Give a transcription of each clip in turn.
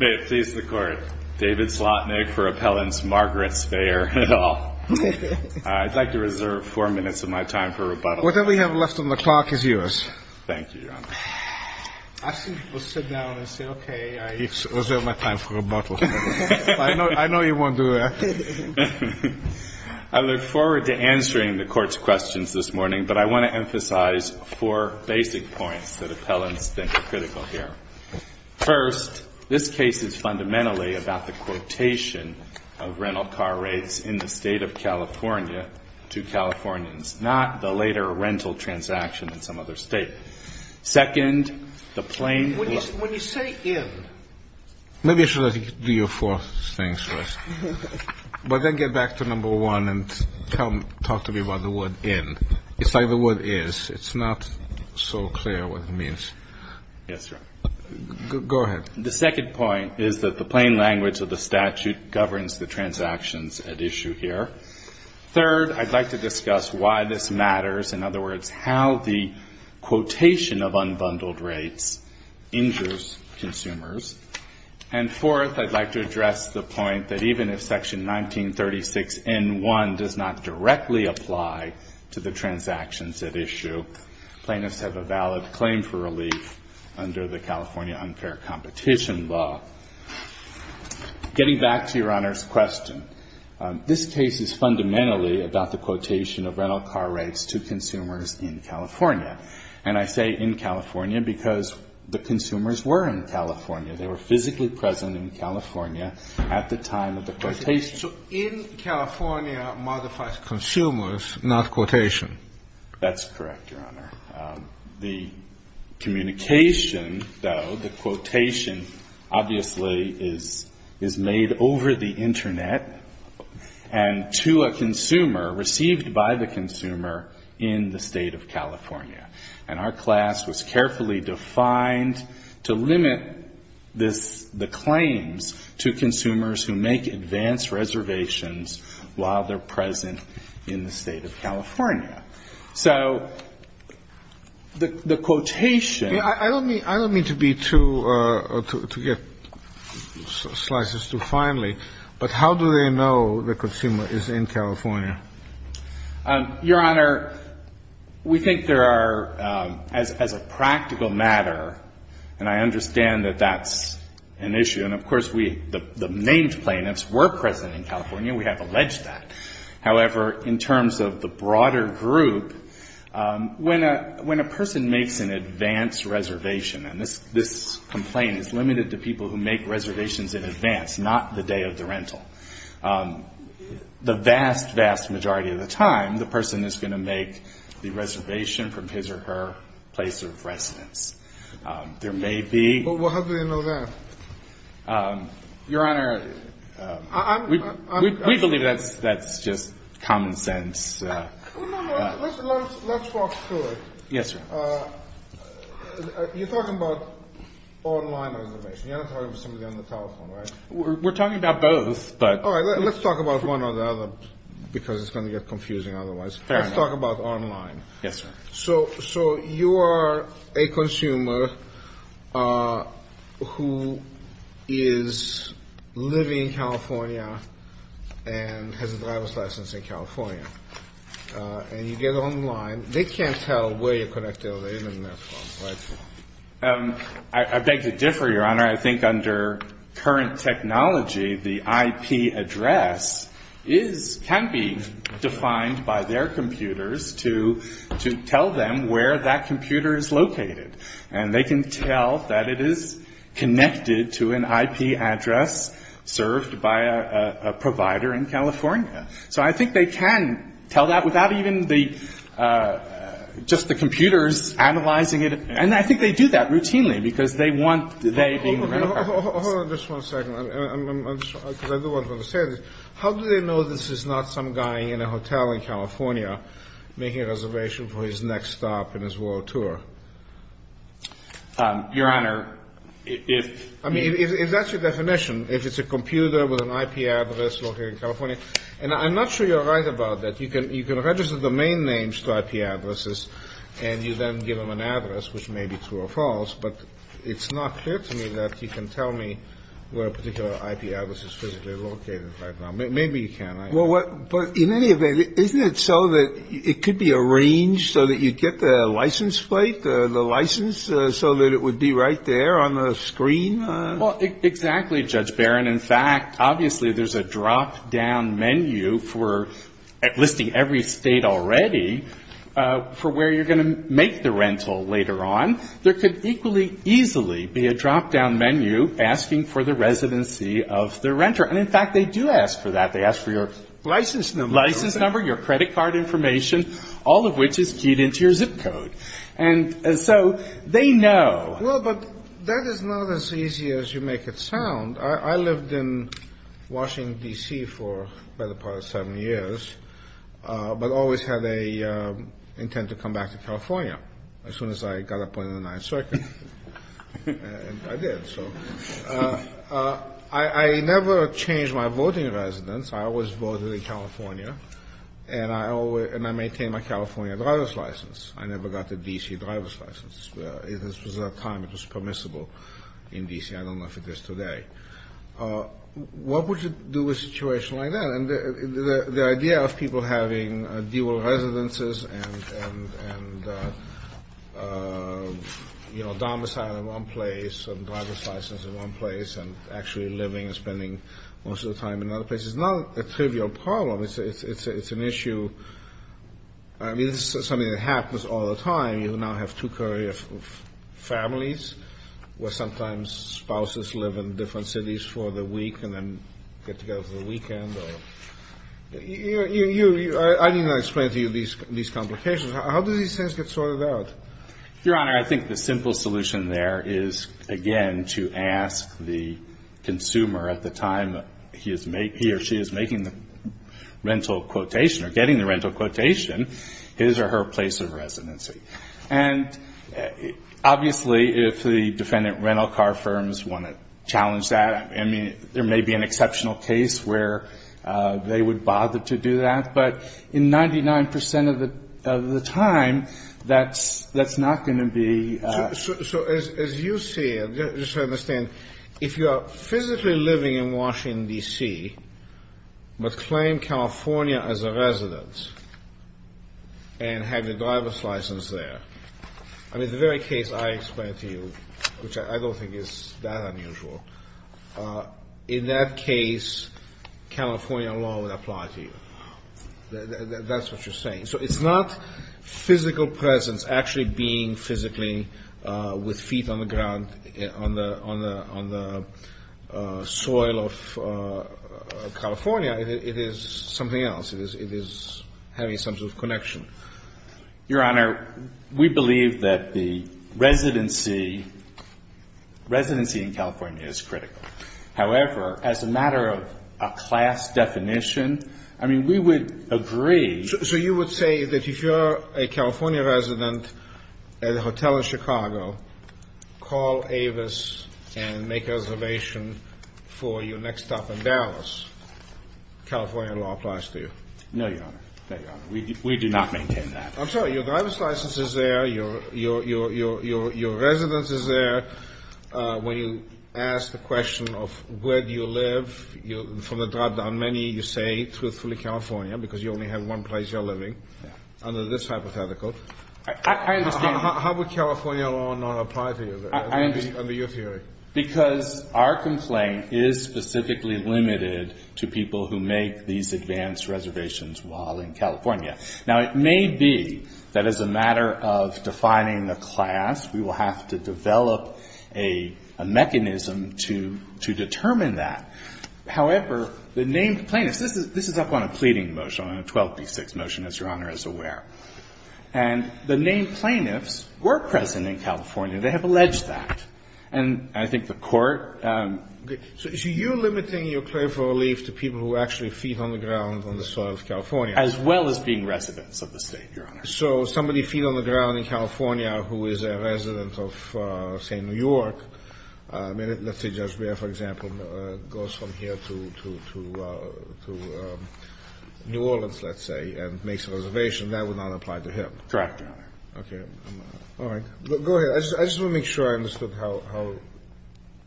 May it please the Court, David Slotnick for Appellant's Margaret Speyer et al. I'd like to reserve four minutes of my time for rebuttal. Whatever we have left on the clock is yours. Thank you, Your Honor. I think we'll sit down and say, okay, I reserve my time for rebuttal. I know you won't do that. I look forward to answering the Court's questions this morning, but I want to emphasize four basic points that appellants think are critical here. First, this case is fundamentally about the quotation of rental car rates in the State of California to Californians, not the later rental transaction in some other State. Second, the plain- When you say in- Maybe I should do your fourth thing first. But then get back to number one and talk to me about the word in. It's like the word is. It's not so clear what it means. Yes, Your Honor. Go ahead. The second point is that the plain language of the statute governs the transactions at issue here. Third, I'd like to discuss why this matters. In other words, how the quotation of unbundled rates injures consumers. And fourth, I'd like to address the point that even if Section 1936N1 does not directly apply to the transactions at issue, plaintiffs have a valid claim for relief under the California unfair competition law. Getting back to Your Honor's question, this case is fundamentally about the quotation of rental car rates to consumers in California. And I say in California because the consumers were in California. They were physically present in California at the time of the quotation. So in California modifies consumers, not quotation. That's correct, Your Honor. The communication, though, the quotation, obviously, is made over the Internet and to a consumer, received by the consumer in the State of California. And our class was carefully defined to limit the claims to consumers who make advanced reservations while they're present in the State of California. So the quotation ---- I don't mean to be too, to get slices too finely, but how do they know the consumer is in California? Your Honor, we think there are, as a practical matter, and I understand that that's an issue. And, of course, we, the named plaintiffs were present in California. We have alleged that. However, in terms of the broader group, when a person makes an advanced reservation and this complaint is limited to people who make reservations in advance, not the day of the rental, the vast, vast majority of the time, the person is going to make the reservation from his or her place of residence. There may be ---- Well, how do they know that? Your Honor, I'm ---- We believe that's just common sense. No, no. Let's walk through it. Yes, sir. You're talking about online reservation. You're not talking about somebody on the telephone, right? We're talking about both, but ---- All right. Let's talk about one or the other because it's going to get confusing otherwise. Fair enough. Let's talk about online. Yes, sir. So you are a consumer who is living in California and has a driver's license in California. And you get online. They can't tell where you're connected or they live in there from, right? And I think under current technology, the IP address is ---- can be defined by their computers to tell them where that computer is located. And they can tell that it is connected to an IP address served by a provider in California. So I think they can tell that without even the ---- just the computers analyzing it. And I think they do that routinely because they want they being the rental partners. Hold on just one second because I do want to understand this. How do they know this is not some guy in a hotel in California making a reservation for his next stop in his world tour? Your Honor, if ---- I mean, if that's your definition, if it's a computer with an IP address located in California, and I'm not sure you're right about that. You can register domain names to IP addresses and you then give them an address, which may be true or false. But it's not clear to me that you can tell me where a particular IP address is physically located right now. Maybe you can. But in any event, isn't it so that it could be arranged so that you get the license plate, the license, so that it would be right there on the screen? Well, exactly, Judge Barron. In fact, obviously, there's a drop-down menu for listing every State already for where you're going to make the rental later on. There could equally easily be a drop-down menu asking for the residency of the renter. And in fact, they do ask for that. They ask for your ---- License number. License number, your credit card information, all of which is keyed into your zip code. And so they know. Well, but that is not as easy as you make it sound. I lived in Washington, D.C., for the better part of seven years, but always had an intent to come back to California as soon as I got up on the 9th Circuit. And I did. So I never changed my voting residence. I always voted in California. And I maintained my California driver's license. I never got the D.C. driver's license. At this time, it was permissible in D.C. I don't know if it is today. What would you do with a situation like that? And the idea of people having dual residences and, you know, domicile in one place and driver's license in one place and actually living and spending most of the time in another place is not a trivial problem. It's an issue. I mean, this is something that happens all the time. You now have two-carrier families where sometimes spouses live in different cities for the week and then get together for the weekend. I need not explain to you these complications. How do these things get sorted out? Your Honor, I think the simple solution there is, again, to ask the consumer at the time he or she is making the rental quotation or getting the rental quotation his or her place of residency. And obviously, if the defendant rental car firms want to challenge that, I mean, there may be an exceptional case where they would bother to do that. But in 99 percent of the time, that's not going to be. So as you see it, just to understand, if you are physically living in Washington, D.C., but claim California as a residence and have your driver's license there, I mean, the very case I explained to you, which I don't think is that unusual, in that case, California law would apply to you. That's what you're saying. So it's not physical presence actually being physically with feet on the ground on the soil of California. It is something else. It is having some sort of connection. Your Honor, we believe that the residency in California is critical. However, as a matter of a class definition, I mean, we would agree. So you would say that if you're a California resident at a hotel in Chicago, call Avis and make a reservation for your next stop in Dallas, California law applies to you? No, Your Honor. No, Your Honor. We do not maintain that. I'm sorry. Your driver's license is there. Your residence is there. When you ask the question of where do you live, from the drop-down menu, you say, truthfully, California, because you only have one place you're living, under this hypothetical. I understand. How would California law not apply to you, under your theory? Because our complaint is specifically limited to people who make these advance reservations while in California. Now, it may be that as a matter of defining a class, we will have to develop a mechanism to determine that. However, the named plaintiffs, this is up on a pleading motion, on a 12b6 motion, as Your Honor is aware. And the named plaintiffs were present in California. They have alleged that. And I think the Court ---- Okay. So is you limiting your claim for relief to people who actually feed on the ground on the soil of California? As well as being residents of the State, Your Honor. So somebody feed on the ground in California who is a resident of, say, New York, I mean, let's say Judge Breyer, for example, goes from here to New Orleans, let's say, and makes a reservation. That would not apply to him. Correct, Your Honor. Okay. All right. Go ahead. I just want to make sure I understood how ----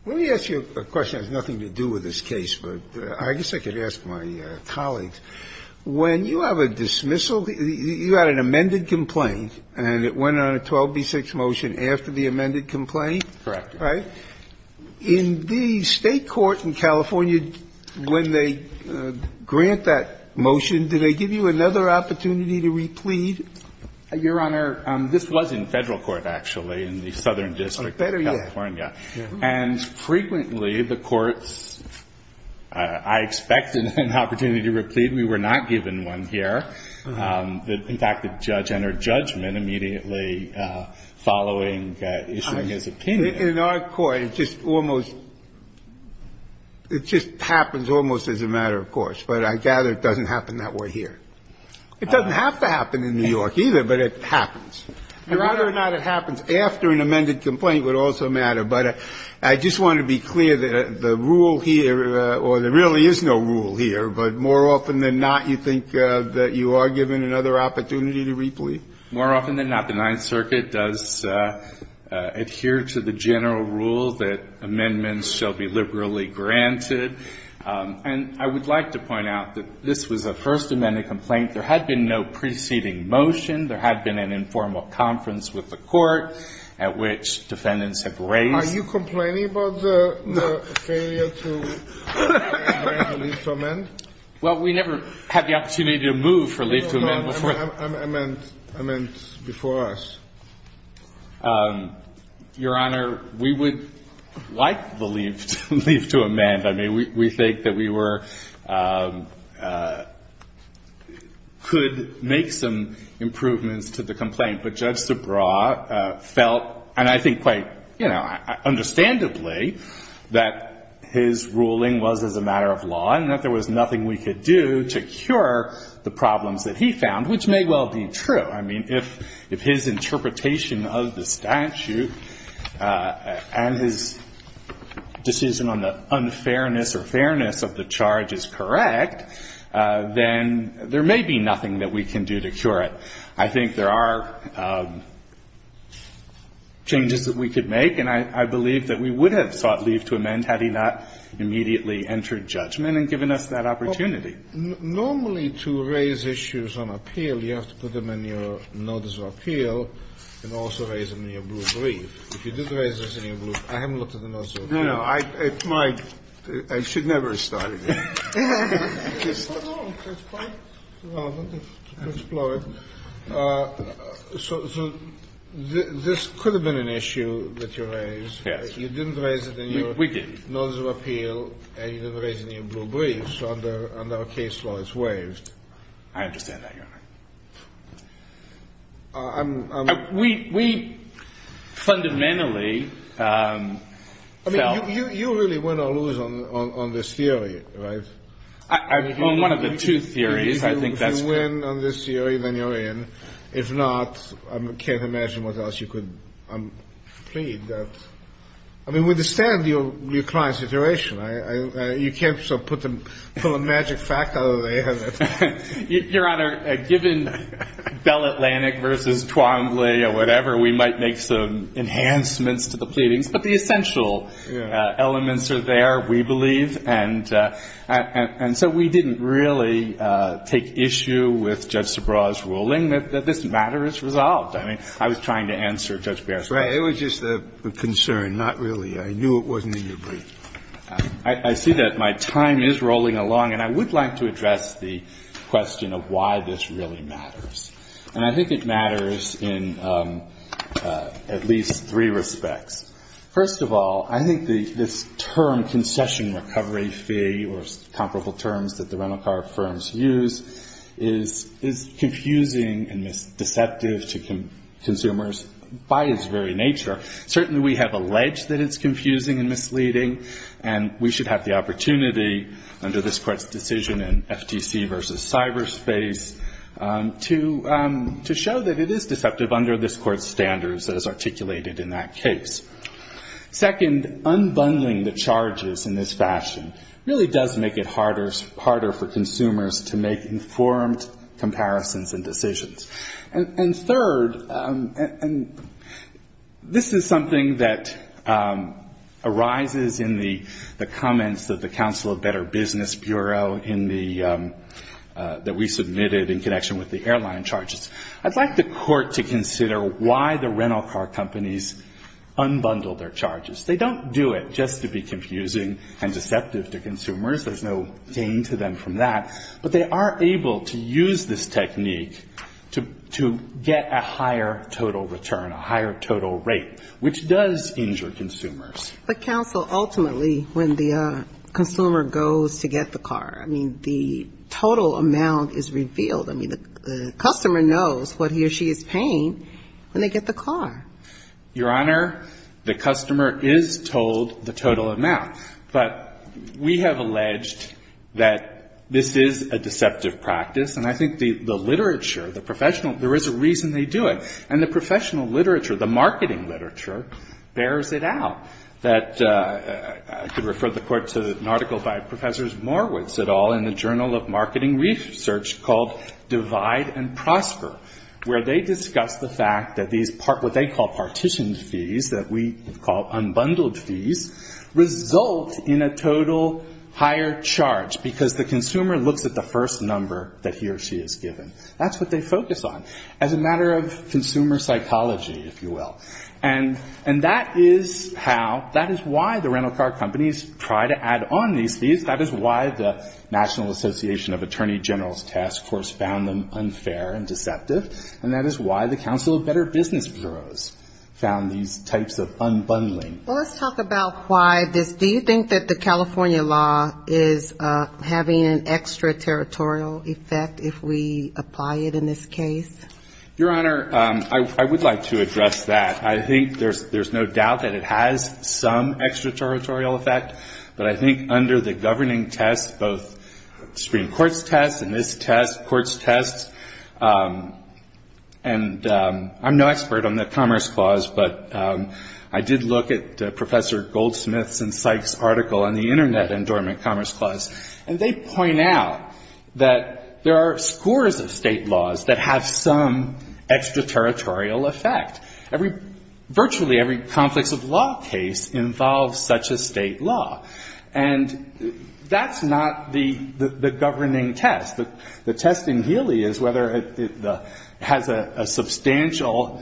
Let me ask you a question that has nothing to do with this case, but I guess I could ask my colleagues. When you have a dismissal, you had an amended complaint, and it went on a 12b6 motion after the amended complaint? Correct. Right? In the State court in California, when they grant that motion, do they give you another opportunity to replead? Your Honor, this was in Federal court, actually, in the Southern district of California. Oh, better yet. And frequently, the courts, I expected an opportunity to replead. We were not given one here. In fact, the judge entered judgment immediately following issuing his opinion. In our court, it just almost ---- it just happens almost as a matter of course. But I gather it doesn't happen that way here. It doesn't have to happen in New York, either, but it happens. Your Honor ---- Whether or not it happens after an amended complaint would also matter. But I just want to be clear that the rule here, or there really is no rule here, but more often than not, you think that you are given another opportunity to replead? More often than not, the Ninth Circuit does adhere to the general rule that amendments shall be liberally granted. And I would like to point out that this was a First Amendment complaint. There had been no preceding motion. There had been an informal conference with the court at which defendants have raised. Are you complaining about the failure to grant a leave to amend? Well, we never had the opportunity to move for leave to amend before. Amendment before us. Your Honor, we would like the leave to amend. I mean, we think that we were ---- could make some improvements to the complaint. But Judge Subraw felt, and I think quite, you know, understandably, that his ruling was as a matter of law and that there was nothing we could do to cure the problems that he found, which may well be true. I mean, if his interpretation of the statute and his decision on the unfairness or fairness of the charge is correct, then there may be nothing that we can do to cure it. I think there are changes that we could make, and I believe that we would have sought leave to amend had he not immediately entered judgment and given us that opportunity. Normally, to raise issues on appeal, you have to put them in your notice of appeal and also raise them in your blue brief. If you did raise this in your blue ---- I haven't looked at the notice of appeal. No, no. It's my ---- I should never have started it. No, no. It's fine. Well, I want to explore it. So this could have been an issue that you raised. You didn't raise it in your notice of appeal. We didn't. And you didn't raise it in your blue brief, so under our case law, it's waived. I understand that, Your Honor. We fundamentally felt ---- I mean, you really win or lose on this theory, right? On one of the two theories, I think that's correct. If you win on this theory, then you're in. If not, I can't imagine what else you could plead. I mean, we understand your client's situation. I ---- you can't so put them ---- pull a magic fact out of their head. Your Honor, given Bell Atlantic v. Twombly or whatever, we might make some enhancements to the pleadings. But the essential elements are there, we believe. And so we didn't really take issue with Judge Subraw's ruling that this matter is resolved. I mean, I was trying to answer Judge Barrett's question. Right. It was just a concern. Not really. I knew it wasn't in your brief. I see that my time is rolling along, and I would like to address the question of why this really matters. And I think it matters in at least three respects. First of all, I think this term, concession recovery fee, or comparable terms that the rental car firms use, is confusing and deceptive to consumers by its very nature. Certainly we have alleged that it's confusing and misleading, and we should have the opportunity under this Court's decision in FTC v. Cyberspace to show that it is deceptive under this Court's standards as articulated in that case. Second, unbundling the charges in this fashion really does make it harder for consumers to make informed comparisons and decisions. And third, and this is something that arises in the comments of the Council of Better Business Bureau in the ‑‑ that we submitted in connection with the airline charges. I'd like the Court to consider why the rental car companies unbundle their charges. They don't do it just to be confusing and deceptive to consumers. There's no gain to them from that. But they are able to use this technique to get a higher total return, a higher total rate, which does injure consumers. But, Counsel, ultimately, when the consumer goes to get the car, I mean, the total amount is revealed. I mean, the customer knows what he or she is paying when they get the car. Your Honor, the customer is told the total amount. But we have alleged that this is a deceptive practice. And I think the literature, the professional, there is a reason they do it. And the professional literature, the marketing literature, bears it out. That I could refer the Court to an article by Professors Morowitz et al. in the Journal of Marketing Research called Divide and Prosper, where they discuss the fact that what they call partitioned fees that we call unbundled fees result in a total higher charge because the consumer looks at the first number that he or she is given. That's what they focus on as a matter of consumer psychology, if you will. And that is how, that is why the rental car companies try to add on these fees. That is why the National Association of Attorney Generals Task Force found them unfair and deceptive. And that is why the Council of Better Business Bureaus found these types of unbundling. Well, let's talk about why this. Do you think that the California law is having an extraterritorial effect if we apply it in this case? Your Honor, I would like to address that. I think there's no doubt that it has some extraterritorial effect. But I think under the governing test, both Supreme Court's test and this test, court's test, and I'm no expert on the Commerce Clause, but I did look at Professor Goldsmith's and Sykes' article on the Internet Endowment Commerce Clause. And they point out that there are scores of state laws that have some extraterritorial effect. Virtually every complex of law case involves such a state law. And that's not the governing test. The test in Healy is whether it has a substantial,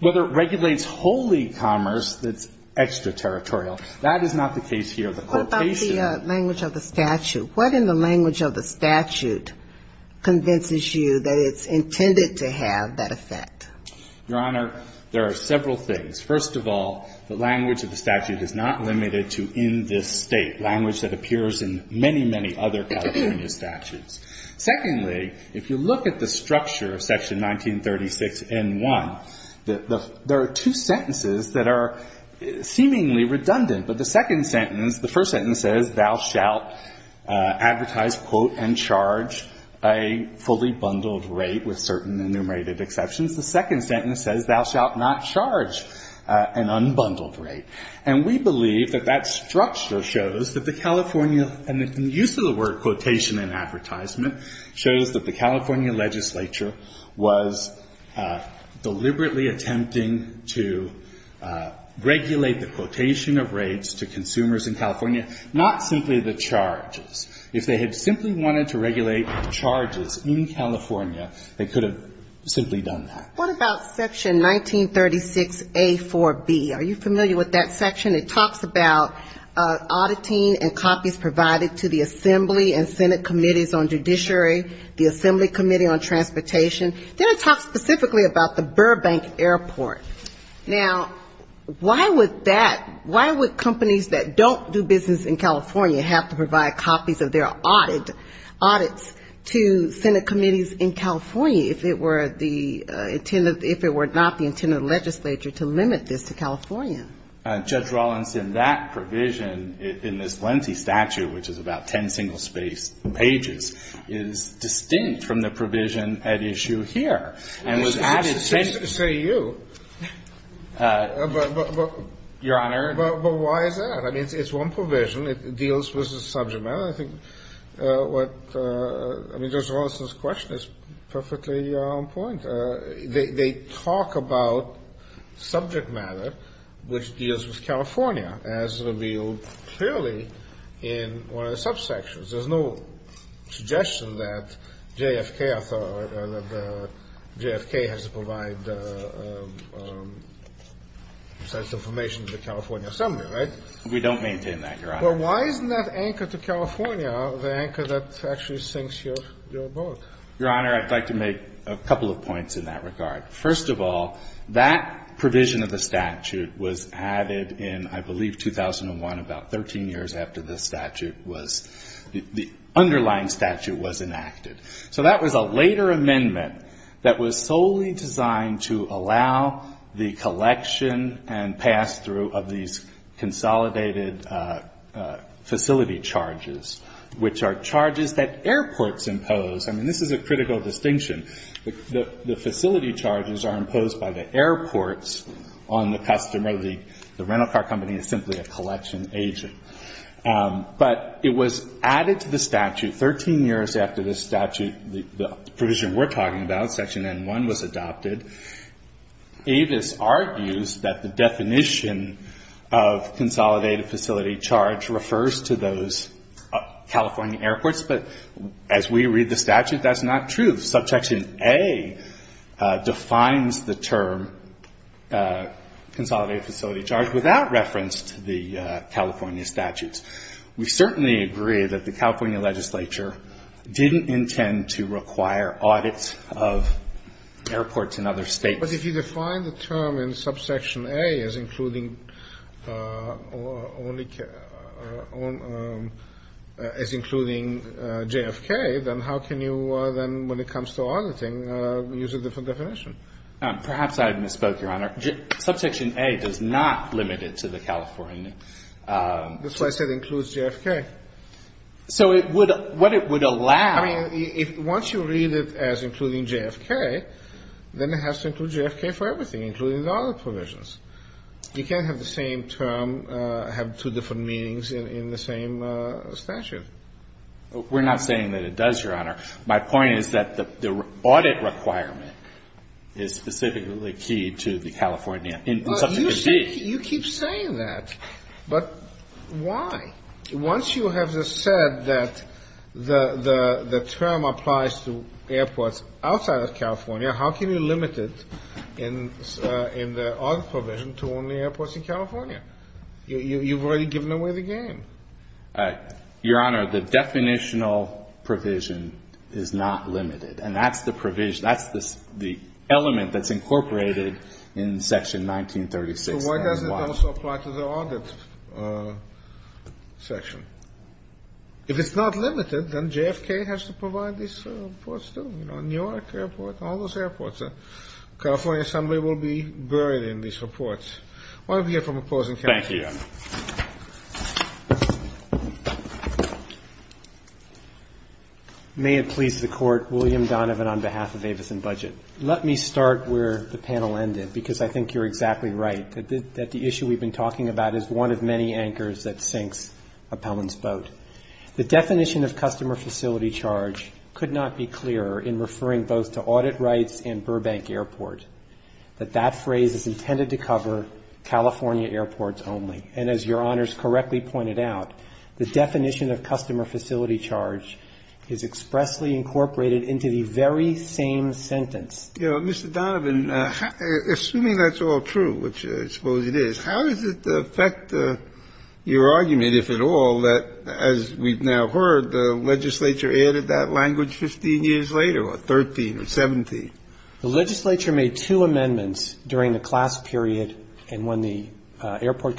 whether it regulates wholly commerce that's extraterritorial. That is not the case here. What about the language of the statute? What in the language of the statute convinces you that it's intended to have that effect? Your Honor, there are several things. First of all, the language of the statute is not limited to in this state, language that appears in many, many other California statutes. Secondly, if you look at the structure of Section 1936N1, there are two sentences that are seemingly redundant. But the second sentence, the first sentence says, Thou shalt advertise, quote, and charge a fully bundled rate with certain enumerated exceptions. The second sentence says, Thou shalt not charge an unbundled rate. And we believe that that structure shows that the California, and the use of the word quotation in advertisement shows that the California legislature was deliberately attempting to regulate the quotation of rates to consumers in California, not simply the charges. If they had simply wanted to regulate the charges in California, they could have simply done that. What about Section 1936A4B? Are you familiar with that section? It talks about auditing and copies provided to the Assembly and Senate Committees on Judiciary, the Assembly Committee on Transportation. Then it talks specifically about the Burbank Airport. Now, why would that, why would companies that don't do business in California have to provide copies of their audits to Senate Committees in California if it were the intended, if it were not the intended legislature to limit this to California? Judge Rawlinson, that provision in this lengthy statute, which is about ten single-spaced pages, is distinct from the provision at issue here. And was added. Say you. Your Honor. But why is that? I mean, it's one provision. It deals with the subject matter. They talk about subject matter, which deals with California, as revealed clearly in one of the subsections. There's no suggestion that JFK has to provide such information to the California Assembly, right? We don't maintain that, Your Honor. But why isn't that anchor to California the anchor that actually sinks your boat? Your Honor, I'd like to make a couple of points in that regard. First of all, that provision of the statute was added in, I believe, 2001, about 13 years after the statute was, the underlying statute was enacted. So that was a later amendment that was solely designed to allow the collection and pass-through of these consolidated facility charges, which are charges that airports impose. I mean, this is a critical distinction. The facility charges are imposed by the airports on the customer. The rental car company is simply a collection agent. But it was added to the statute 13 years after this statute, the provision we're talking about, Section N-1, was adopted. Avis argues that the definition of consolidated facility charge refers to those California airports. But as we read the statute, that's not true. Subsection A defines the term consolidated facility charge without reference to the California statutes. We certainly agree that the California legislature didn't intend to require audits of airports in other States. But if you define the term in Subsection A as including JFK, then how can you then, when it comes to auditing, use a different definition? Perhaps I've misspoke, Your Honor. Subsection A does not limit it to the California. That's why I said includes JFK. So it would, what it would allow. I mean, once you read it as including JFK, then it has to include JFK for everything, including the other provisions. You can't have the same term have two different meanings in the same statute. We're not saying that it does, Your Honor. My point is that the audit requirement is specifically key to the California in Subsection D. You keep saying that. But why? Once you have said that the term applies to airports outside of California, how can you limit it in the audit provision to only airports in California? You've already given away the game. Your Honor, the definitional provision is not limited. And that's the provision, that's the element that's incorporated in Section 1936. So why does it also apply to the audit section? If it's not limited, then JFK has to provide these reports, too. You know, Newark Airport, all those airports. The California Assembly will be buried in these reports. Why don't we hear from opposing counsel? Thank you, Your Honor. May it please the Court. William Donovan on behalf of Avis and Budget. Let me start where the panel ended, because I think you're exactly right, that the issue we've been talking about is one of many anchors that sinks Appellant's boat. The definition of customer facility charge could not be clearer in referring both to audit rights and Burbank Airport, that that phrase is intended to cover California airports only. And as Your Honors correctly pointed out, the definition of customer facility charge is expressly incorporated into the very same sentence. Mr. Donovan, assuming that's all true, which I suppose it is, how does it affect your argument, if at all, that, as we've now heard, the legislature added that language 15 years later or 13 or 17? The legislature made two amendments during the class period and when the airport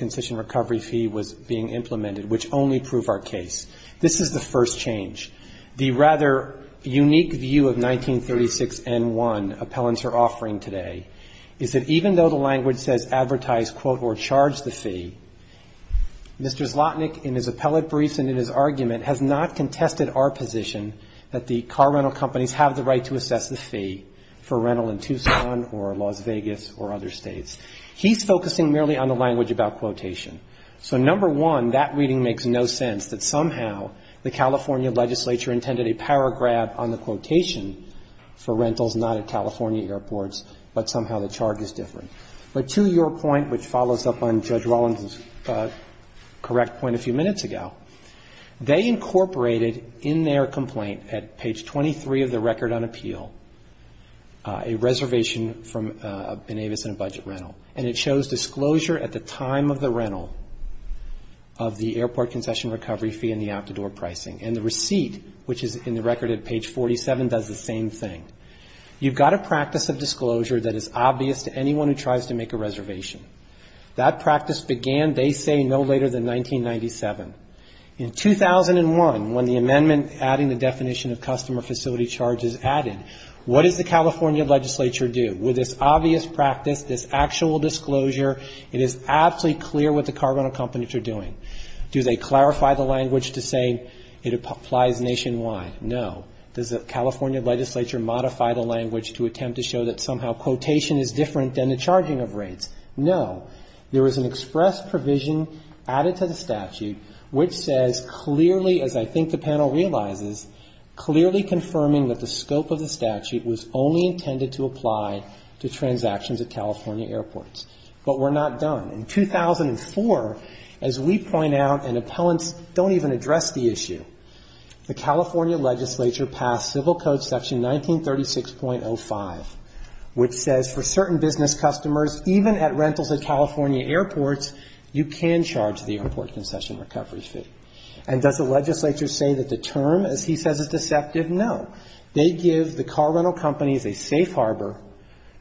fee was being implemented, which only proved our case. This is the first change. The rather unique view of 1936N1 appellants are offering today is that even though the language says advertise, quote, or charge the fee, Mr. Zlotnick, in his appellate briefs and in his argument, has not contested our position that the car rental companies have the right to assess the fee for rental in Tucson or Las Vegas or other states. He's focusing merely on the language about quotation. So number one, that reading makes no sense, that somehow the California legislature intended a paragraph on the quotation for rentals not at California airports, but somehow the charge is different. But to your point, which follows up on Judge Rollins' correct point a few minutes ago, they incorporated in their complaint at page 23 of the record on appeal, a reservation from Benavis and a budget rental. And it shows disclosure at the time of the rental of the airport concession recovery fee and the out-the-door pricing. And the receipt, which is in the record at page 47, does the same thing. You've got a practice of disclosure that is obvious to anyone who tries to make a reservation. That practice began, they say, no later than 1997. In 2001, when the amendment adding the definition of customer facility charge is added, what does the California legislature do? With this obvious practice, this actual disclosure, it is absolutely clear what the car rental companies are doing. Do they clarify the language to say it applies nationwide? No. Does the California legislature modify the language to attempt to show that somehow quotation is different than the charging of rates? No. There is an express provision added to the statute which says clearly, as I think the panel realizes, clearly confirming that the scope of the statute was only intended to apply to transactions at California airports. But we're not done. In 2004, as we point out, and appellants don't even address the issue, the California legislature passed Civil Code section 1936.05, which says for certain business customers, even at rentals at California airports, you can charge the airport concession recovery fee. And does the legislature say that the term, as he says, is deceptive? No. They give the car rental companies a safe harbor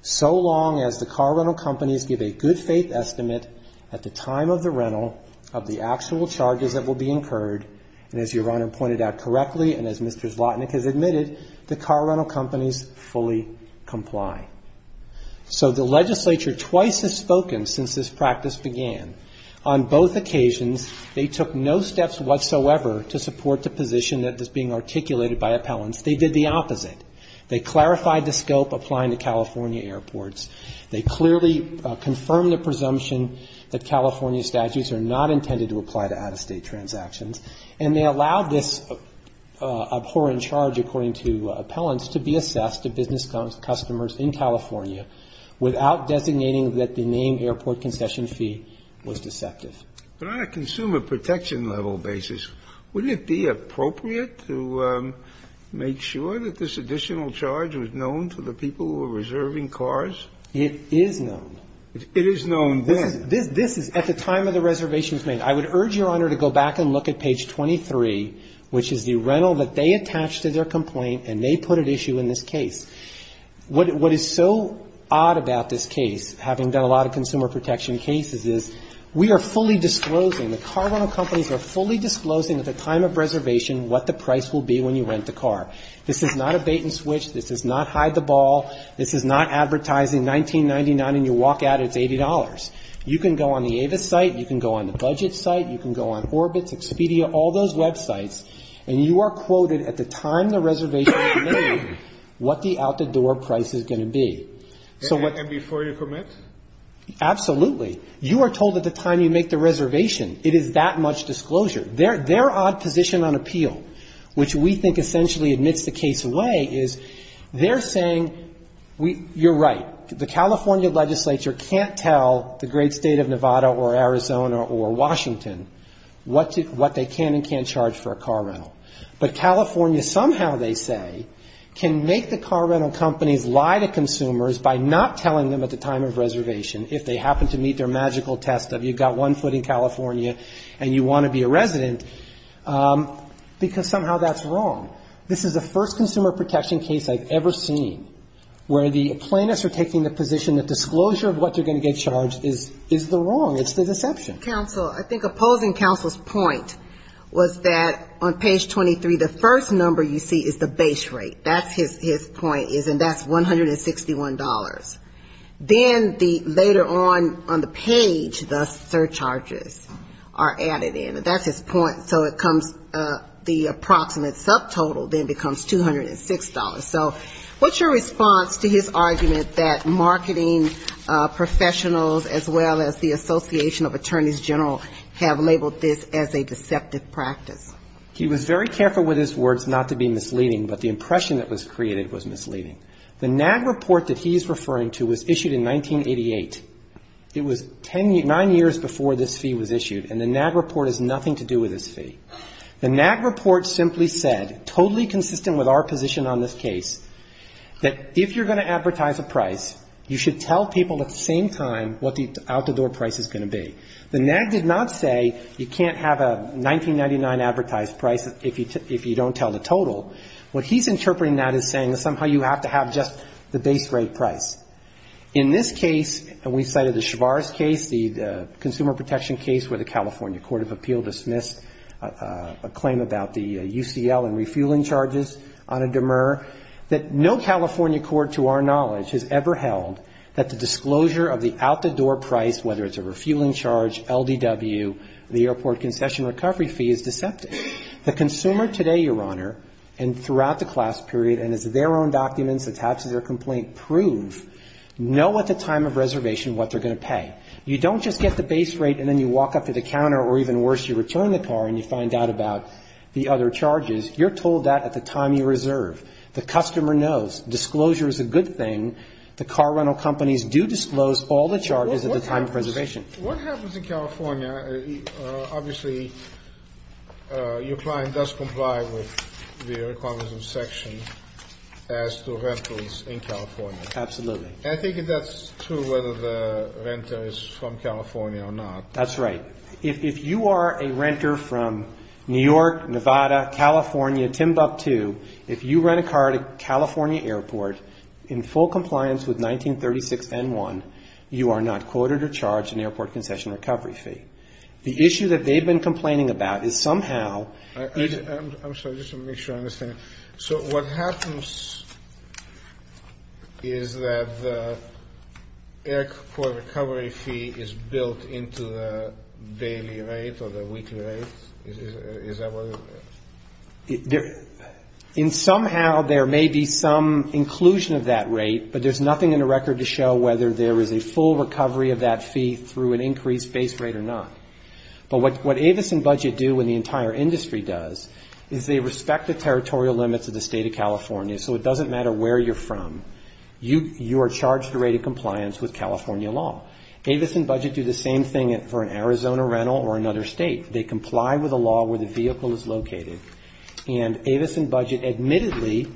so long as the car rental companies give a good-faith estimate at the time of the rental of the actual charges that will be incurred, and as Your Honor pointed out correctly and as Mr. Zlotnick has admitted, the car rental companies fully comply. So the legislature twice has spoken since this practice began. On both occasions, they took no steps whatsoever to support the position that is being articulated by appellants. They did the opposite. They clarified the scope applying to California airports. They clearly confirmed the presumption that California statutes are not intended to apply to out-of-state transactions. And they allowed this abhorrent charge, according to appellants, to be assessed to business customers in California without designating that the name airport concession fee was deceptive. But on a consumer protection level basis, wouldn't it be appropriate to make sure that this additional charge was known to the people who were reserving cars? It is known. It is known then. This is at the time of the reservation was made. I would urge Your Honor to go back and look at page 23, which is the rental that they attached to their complaint, and they put at issue in this case. What is so odd about this case, having done a lot of consumer protection cases, is we are fully disclosing, the car rental companies are fully disclosing at the time of reservation what the price will be when you rent the car. This is not a bait and switch. This does not hide the ball. This is not advertising 1999 and you walk out, it's $80. You can go on the Avis site, you can go on the budget site, you can go on Orbit, Expedia, all those websites, and you are quoted at the time the reservation was made what the out-the-door price is going to be. And before you commit? Absolutely. You are told at the time you make the reservation, it is that much disclosure. Their odd position on appeal, which we think essentially admits the case away, is they're saying, you're right, the California legislature can't tell the great state of Nevada or Arizona or Washington what they can and can't charge for a car rental. But California somehow, they say, can make the car rental companies lie to consumers by not telling them at the time of reservation if they happen to meet their magical test of you've got one foot in California and you want to be a resident, because somehow that's wrong. This is the first consumer protection case I've ever seen where the plaintiffs are taking the position that disclosure of what they're going to get charged is the wrong, it's the deception. Counsel, I think opposing counsel's point was that on page 23, the first number you see is the base rate. That's his point, and that's $161. Then the later on on the page, the surcharges are added in. That's his point. So it comes, the approximate subtotal then becomes $206. So what's your response to his argument that marketing professionals as well as the Association of Attorneys General have labeled this as a deceptive practice? He was very careful with his words not to be misleading, but the impression that was created was misleading. The NAD report that he's referring to was issued in 1988. It was nine years before this fee was issued, and the NAD report has nothing to do with this fee. The NAD report simply said, totally consistent with our position on this case, that if you're going to advertise a price, you should tell people at the same time what the out-the-door price is going to be. The NAD did not say you can't have a $19.99 advertised price if you don't tell the total. What he's interpreting that as saying is somehow you have to have just the base rate price. In this case, and we cited the Chavars case, the consumer protection case where the California Court of Appeal dismissed a claim about the UCL and refueling charges on a demur, that no California court to our knowledge has ever held that the disclosure of the out-the-door price, whether it's a refueling charge, LDW, the airport concession recovery fee, is deceptive. The consumer today, Your Honor, and throughout the class period, and as their own documents attached to their complaint prove, know at the time of reservation what they're going to pay. You don't just get the base rate and then you walk up to the counter, or even worse, you return the car and you find out about the other charges. You're told that at the time you reserve. The customer knows. Disclosure is a good thing. The car rental companies do disclose all the charges at the time of reservation. What happens in California, obviously your client does comply with the requirements of section as to rentals in California. Absolutely. And I think that's true whether the renter is from California or not. That's right. If you are a renter from New York, Nevada, California, Timbuktu, if you rent a car at a California airport in full compliance with 1936N1, you are not quoted or charged an airport concession recovery fee. The issue that they've been complaining about is somehow. I'm sorry. Just to make sure I understand. So what happens is that the airport recovery fee is built into the daily rate or the weekly rate? Is that what it is? In somehow there may be some inclusion of that rate, but there's nothing in the record to show whether there is a full recovery of that fee through an increased base rate or not. If you respect the territorial limits of the State of California, so it doesn't matter where you're from, you are charged a rate of compliance with California law. Avis and Budget do the same thing for an Arizona rental or another State. They comply with a law where the vehicle is located. And Avis and Budget admittedly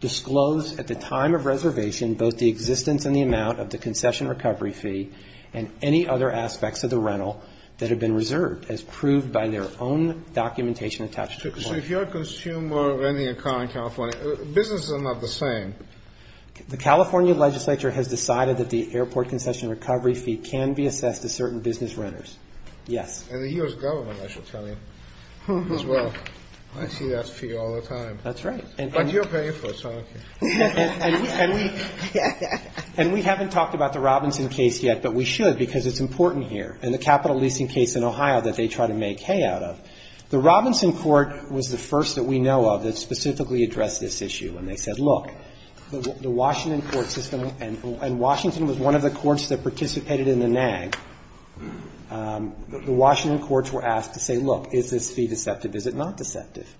disclose at the time of reservation both the existence and the amount of the concession recovery fee and any other aspects of the rental that have been reserved, as proved by their own documentation attached to compliance. So if you're a consumer renting a car in California, businesses are not the same. The California legislature has decided that the airport concession recovery fee can be assessed to certain business renters. Yes. And the U.S. government, I should tell you, as well. I see that fee all the time. That's right. And we haven't talked about the Robinson case yet, but we should, because it's important here. In the capital leasing case in Ohio that they try to make hay out of, the Robinson court was the first that we know of that specifically addressed this issue, and they said, look, the Washington court system, and Washington was one of the courts that participated in the nag, the Washington courts were asked to say, look, is this fee deceptive? Is it not deceptive?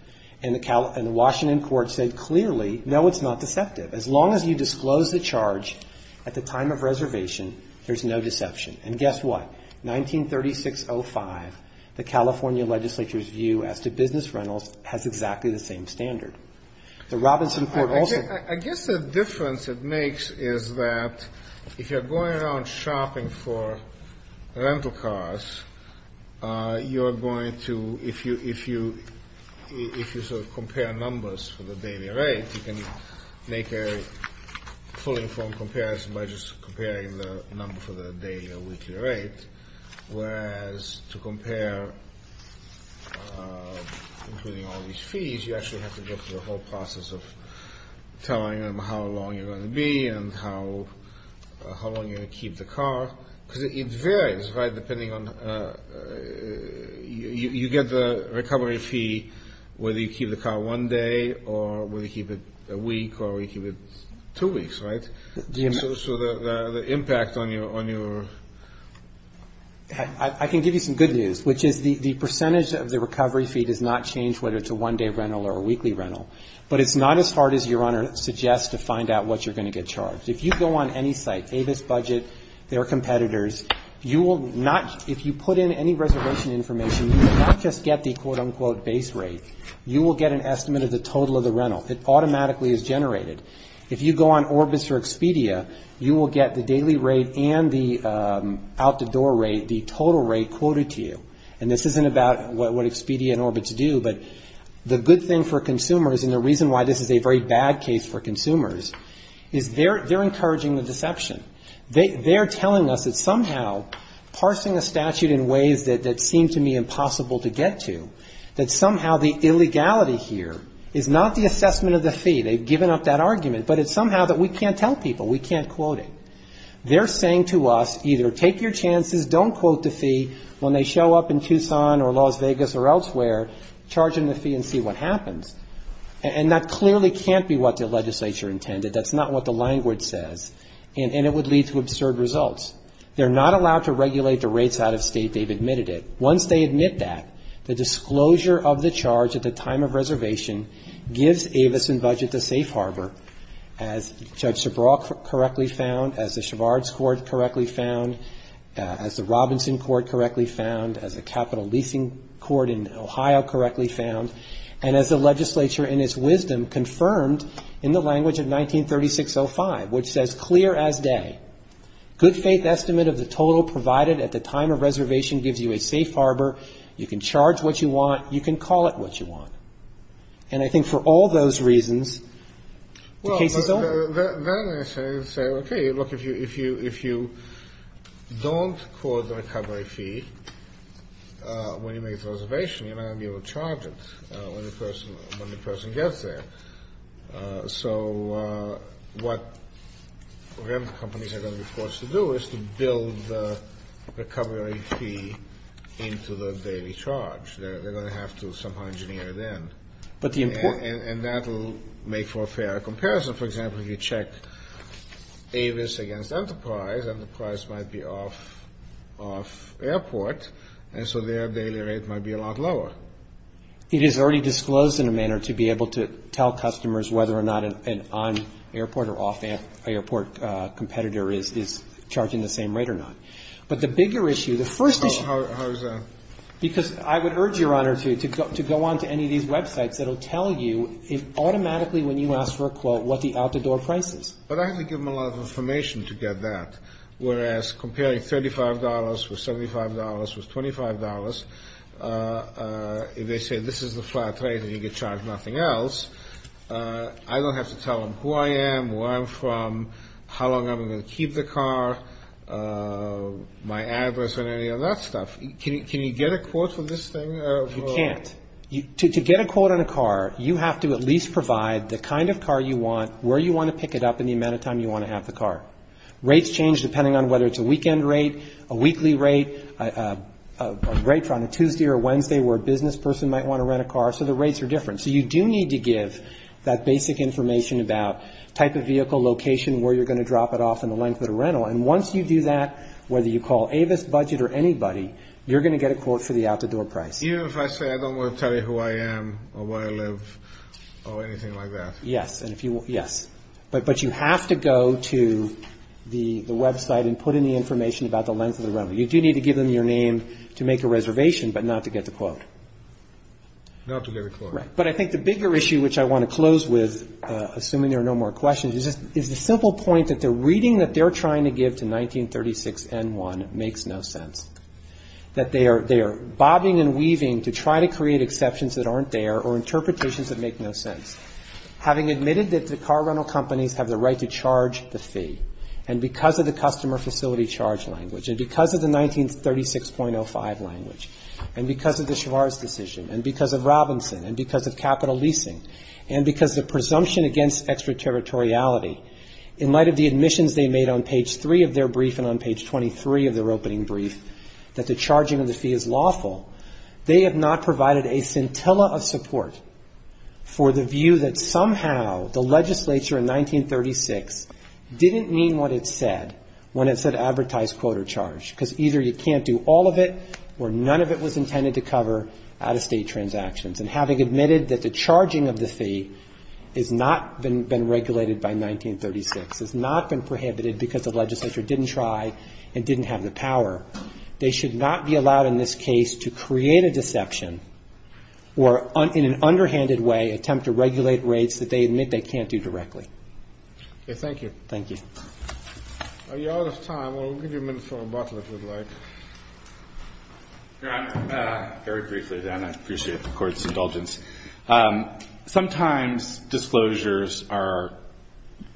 And the Washington court said clearly, no, it's not deceptive. As long as you disclose the charge at the time of reservation, there's no deception. And guess what? 1936.05, the California legislature's view as to business rentals has exactly the same standard. The Robinson court also. I guess the difference it makes is that if you're going around shopping for rental cars, you're going to, if you sort of compare numbers for the daily rate, you can make a fully informed comparison by just comparing the number for the daily or weekly rate, whereas to compare, including all these fees, you actually have to go through the whole process of telling them how long you're going to be and how long you're going to keep the car, because it varies, right, depending on, you get the recovery fee whether you keep the car one day or whether you keep it a week or you keep it two weeks, right? So the impact on your... I can give you some good news, which is the percentage of the recovery fee does not change whether it's a one-day rental or a weekly rental, but it's not as hard as your owner suggests to find out what you're going to get charged. If you go on any site, Avis budget, their competitors, you will not, if you put in any reservation information, you will not just get the quote-unquote base rate, you will get an estimate of the total of the rental. It automatically is generated. If you go on Orbis or Expedia, you will get the daily rate and the out-the-door rate, the total rate quoted to you. And this isn't about what Expedia and Orbis do, but the good thing for consumers and the reason why this is a very bad case for consumers is they're encouraging the deception. They're telling us that somehow parsing a statute in ways that seem to me impossible to get to, that somehow the illegality here is not the assessment of the fee, they've given up that argument, but it's somehow that we can't tell people, we can't quote-unquote the fee when they show up in Tucson or Las Vegas or elsewhere, charge them the fee and see what happens. And that clearly can't be what the legislature intended. That's not what the language says. And it would lead to absurd results. They're not allowed to regulate the rates out-of-state. They've admitted it. Once they admit that, the disclosure of the charge at the time of reservation gives Avis and budget the safe harbor, as Judge Robinson court correctly found, as a capital leasing court in Ohio correctly found, and as the legislature in its wisdom confirmed in the language of 1936.05, which says, clear as day, good faith estimate of the total provided at the time of reservation gives you a safe harbor. You can charge what you want. You can call it what you want. And I think for all those reasons, the case is open. Then I say, okay, look, if you don't quote the recovery fee when you make the reservation, you're not going to be able to charge it when the person gets there. So what rent companies are going to be forced to do is to build the recovery fee into the daily charge. They're going to have to somehow engineer it in. And that will make for a fair comparison. For example, if you check Avis against Enterprise, Enterprise might be off-airport, and so their daily rate might be a lot lower. It is already disclosed in a manner to be able to tell customers whether or not an on-airport or off-airport competitor is charging the same rate or not. But the bigger issue, the first issue How is that? Because I would urge, Your Honor, to go on to any of these websites that will tell you automatically when you ask for a quote what the out-the-door price is. But I have to give them a lot of information to get that. Whereas comparing $35 with $75 with $25, if they say this is the flat rate and you get charged nothing else, I don't have to tell them who I am, where I'm from, how long I'm going to keep the car, my address and any of that stuff. Can you get a quote for this thing? You can't. To get a quote on a car, you have to at least provide the kind of car you want, where you want to pick it up, and the amount of time you want to have the car. Rates change depending on whether it's a weekend rate, a weekly rate, a rate on a Tuesday or Wednesday where a business person might want to rent a car. So the rates are different. So you do need to give that basic information about type of vehicle, location, where you're going to drop it off, and the length of the rental. You're going to get a quote for the out-the-door price. Even if I say I don't want to tell you who I am or where I live or anything like that? Yes. But you have to go to the website and put in the information about the length of the rental. You do need to give them your name to make a reservation, but not to get the quote. But I think the bigger issue, which I want to close with, assuming there are no more questions, is the simple point that the reading that they're trying to give to 1936N1 makes no sense. That they are bobbing and weaving to try to create exceptions that aren't there or interpretations that make no sense. Having admitted that the car rental companies have the right to charge the fee, and because of the customer facility charge language, and because of the 1936.05 language, and because of the Schwarz decision, and because of Robinson, and because of capital leasing, and because of presumption against extraterritoriality, in light of the admissions they made on page 3 of their brief and on page 23 of their opening brief, that the charging of the fee is lawful, they have not provided a scintilla of support for the view that somehow the legislature in 1936 didn't mean what it said when it said advertise quote or charge, because either you can't do all of it or none of it was intended to cover out-of-state transactions. And having admitted that the charging of the fee has not been regulated by 1936, has not been prohibited because the legislature didn't try and didn't have the power, they should not be allowed in this case to create a deception or in an underhanded way attempt to regulate rates that they admit they can't do directly. Thank you. Very briefly, Dan, I appreciate the Court's indulgence. Sometimes disclosures are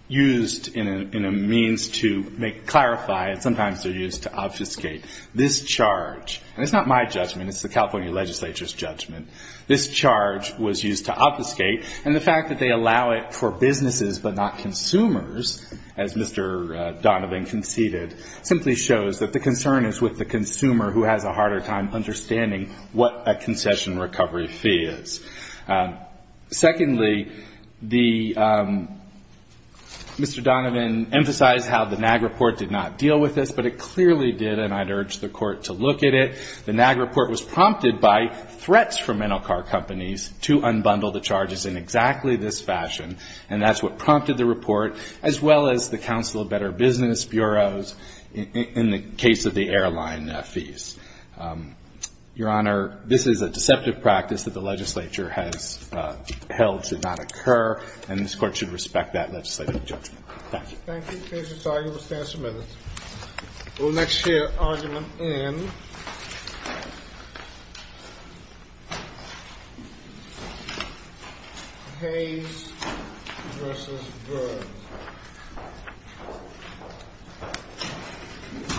used in a means to clarify and sometimes they're used to optimize. This charge, and it's not my judgment, it's the California legislature's judgment, this charge was used to obfuscate, and the fact that they allow it for businesses but not consumers, as Mr. Donovan conceded, simply shows that the concern is with the consumer who has a harder time understanding what a concession recovery fee is. Secondly, the, Mr. Donovan emphasized how the NAG report did not deal with this, but it clearly did not deal with this. And I'd urge the Court to look at it. The NAG report was prompted by threats from rental car companies to unbundle the charges in exactly this fashion, and that's what prompted the report, as well as the Council of Better Business Bureaus in the case of the airline fees. Your Honor, this is a deceptive practice that the legislature has held should not occur, and this Court should respect that legislative judgment. Thank you. Case is signed. You will stand for a minute. We'll next hear argument in Hayes v. Burns.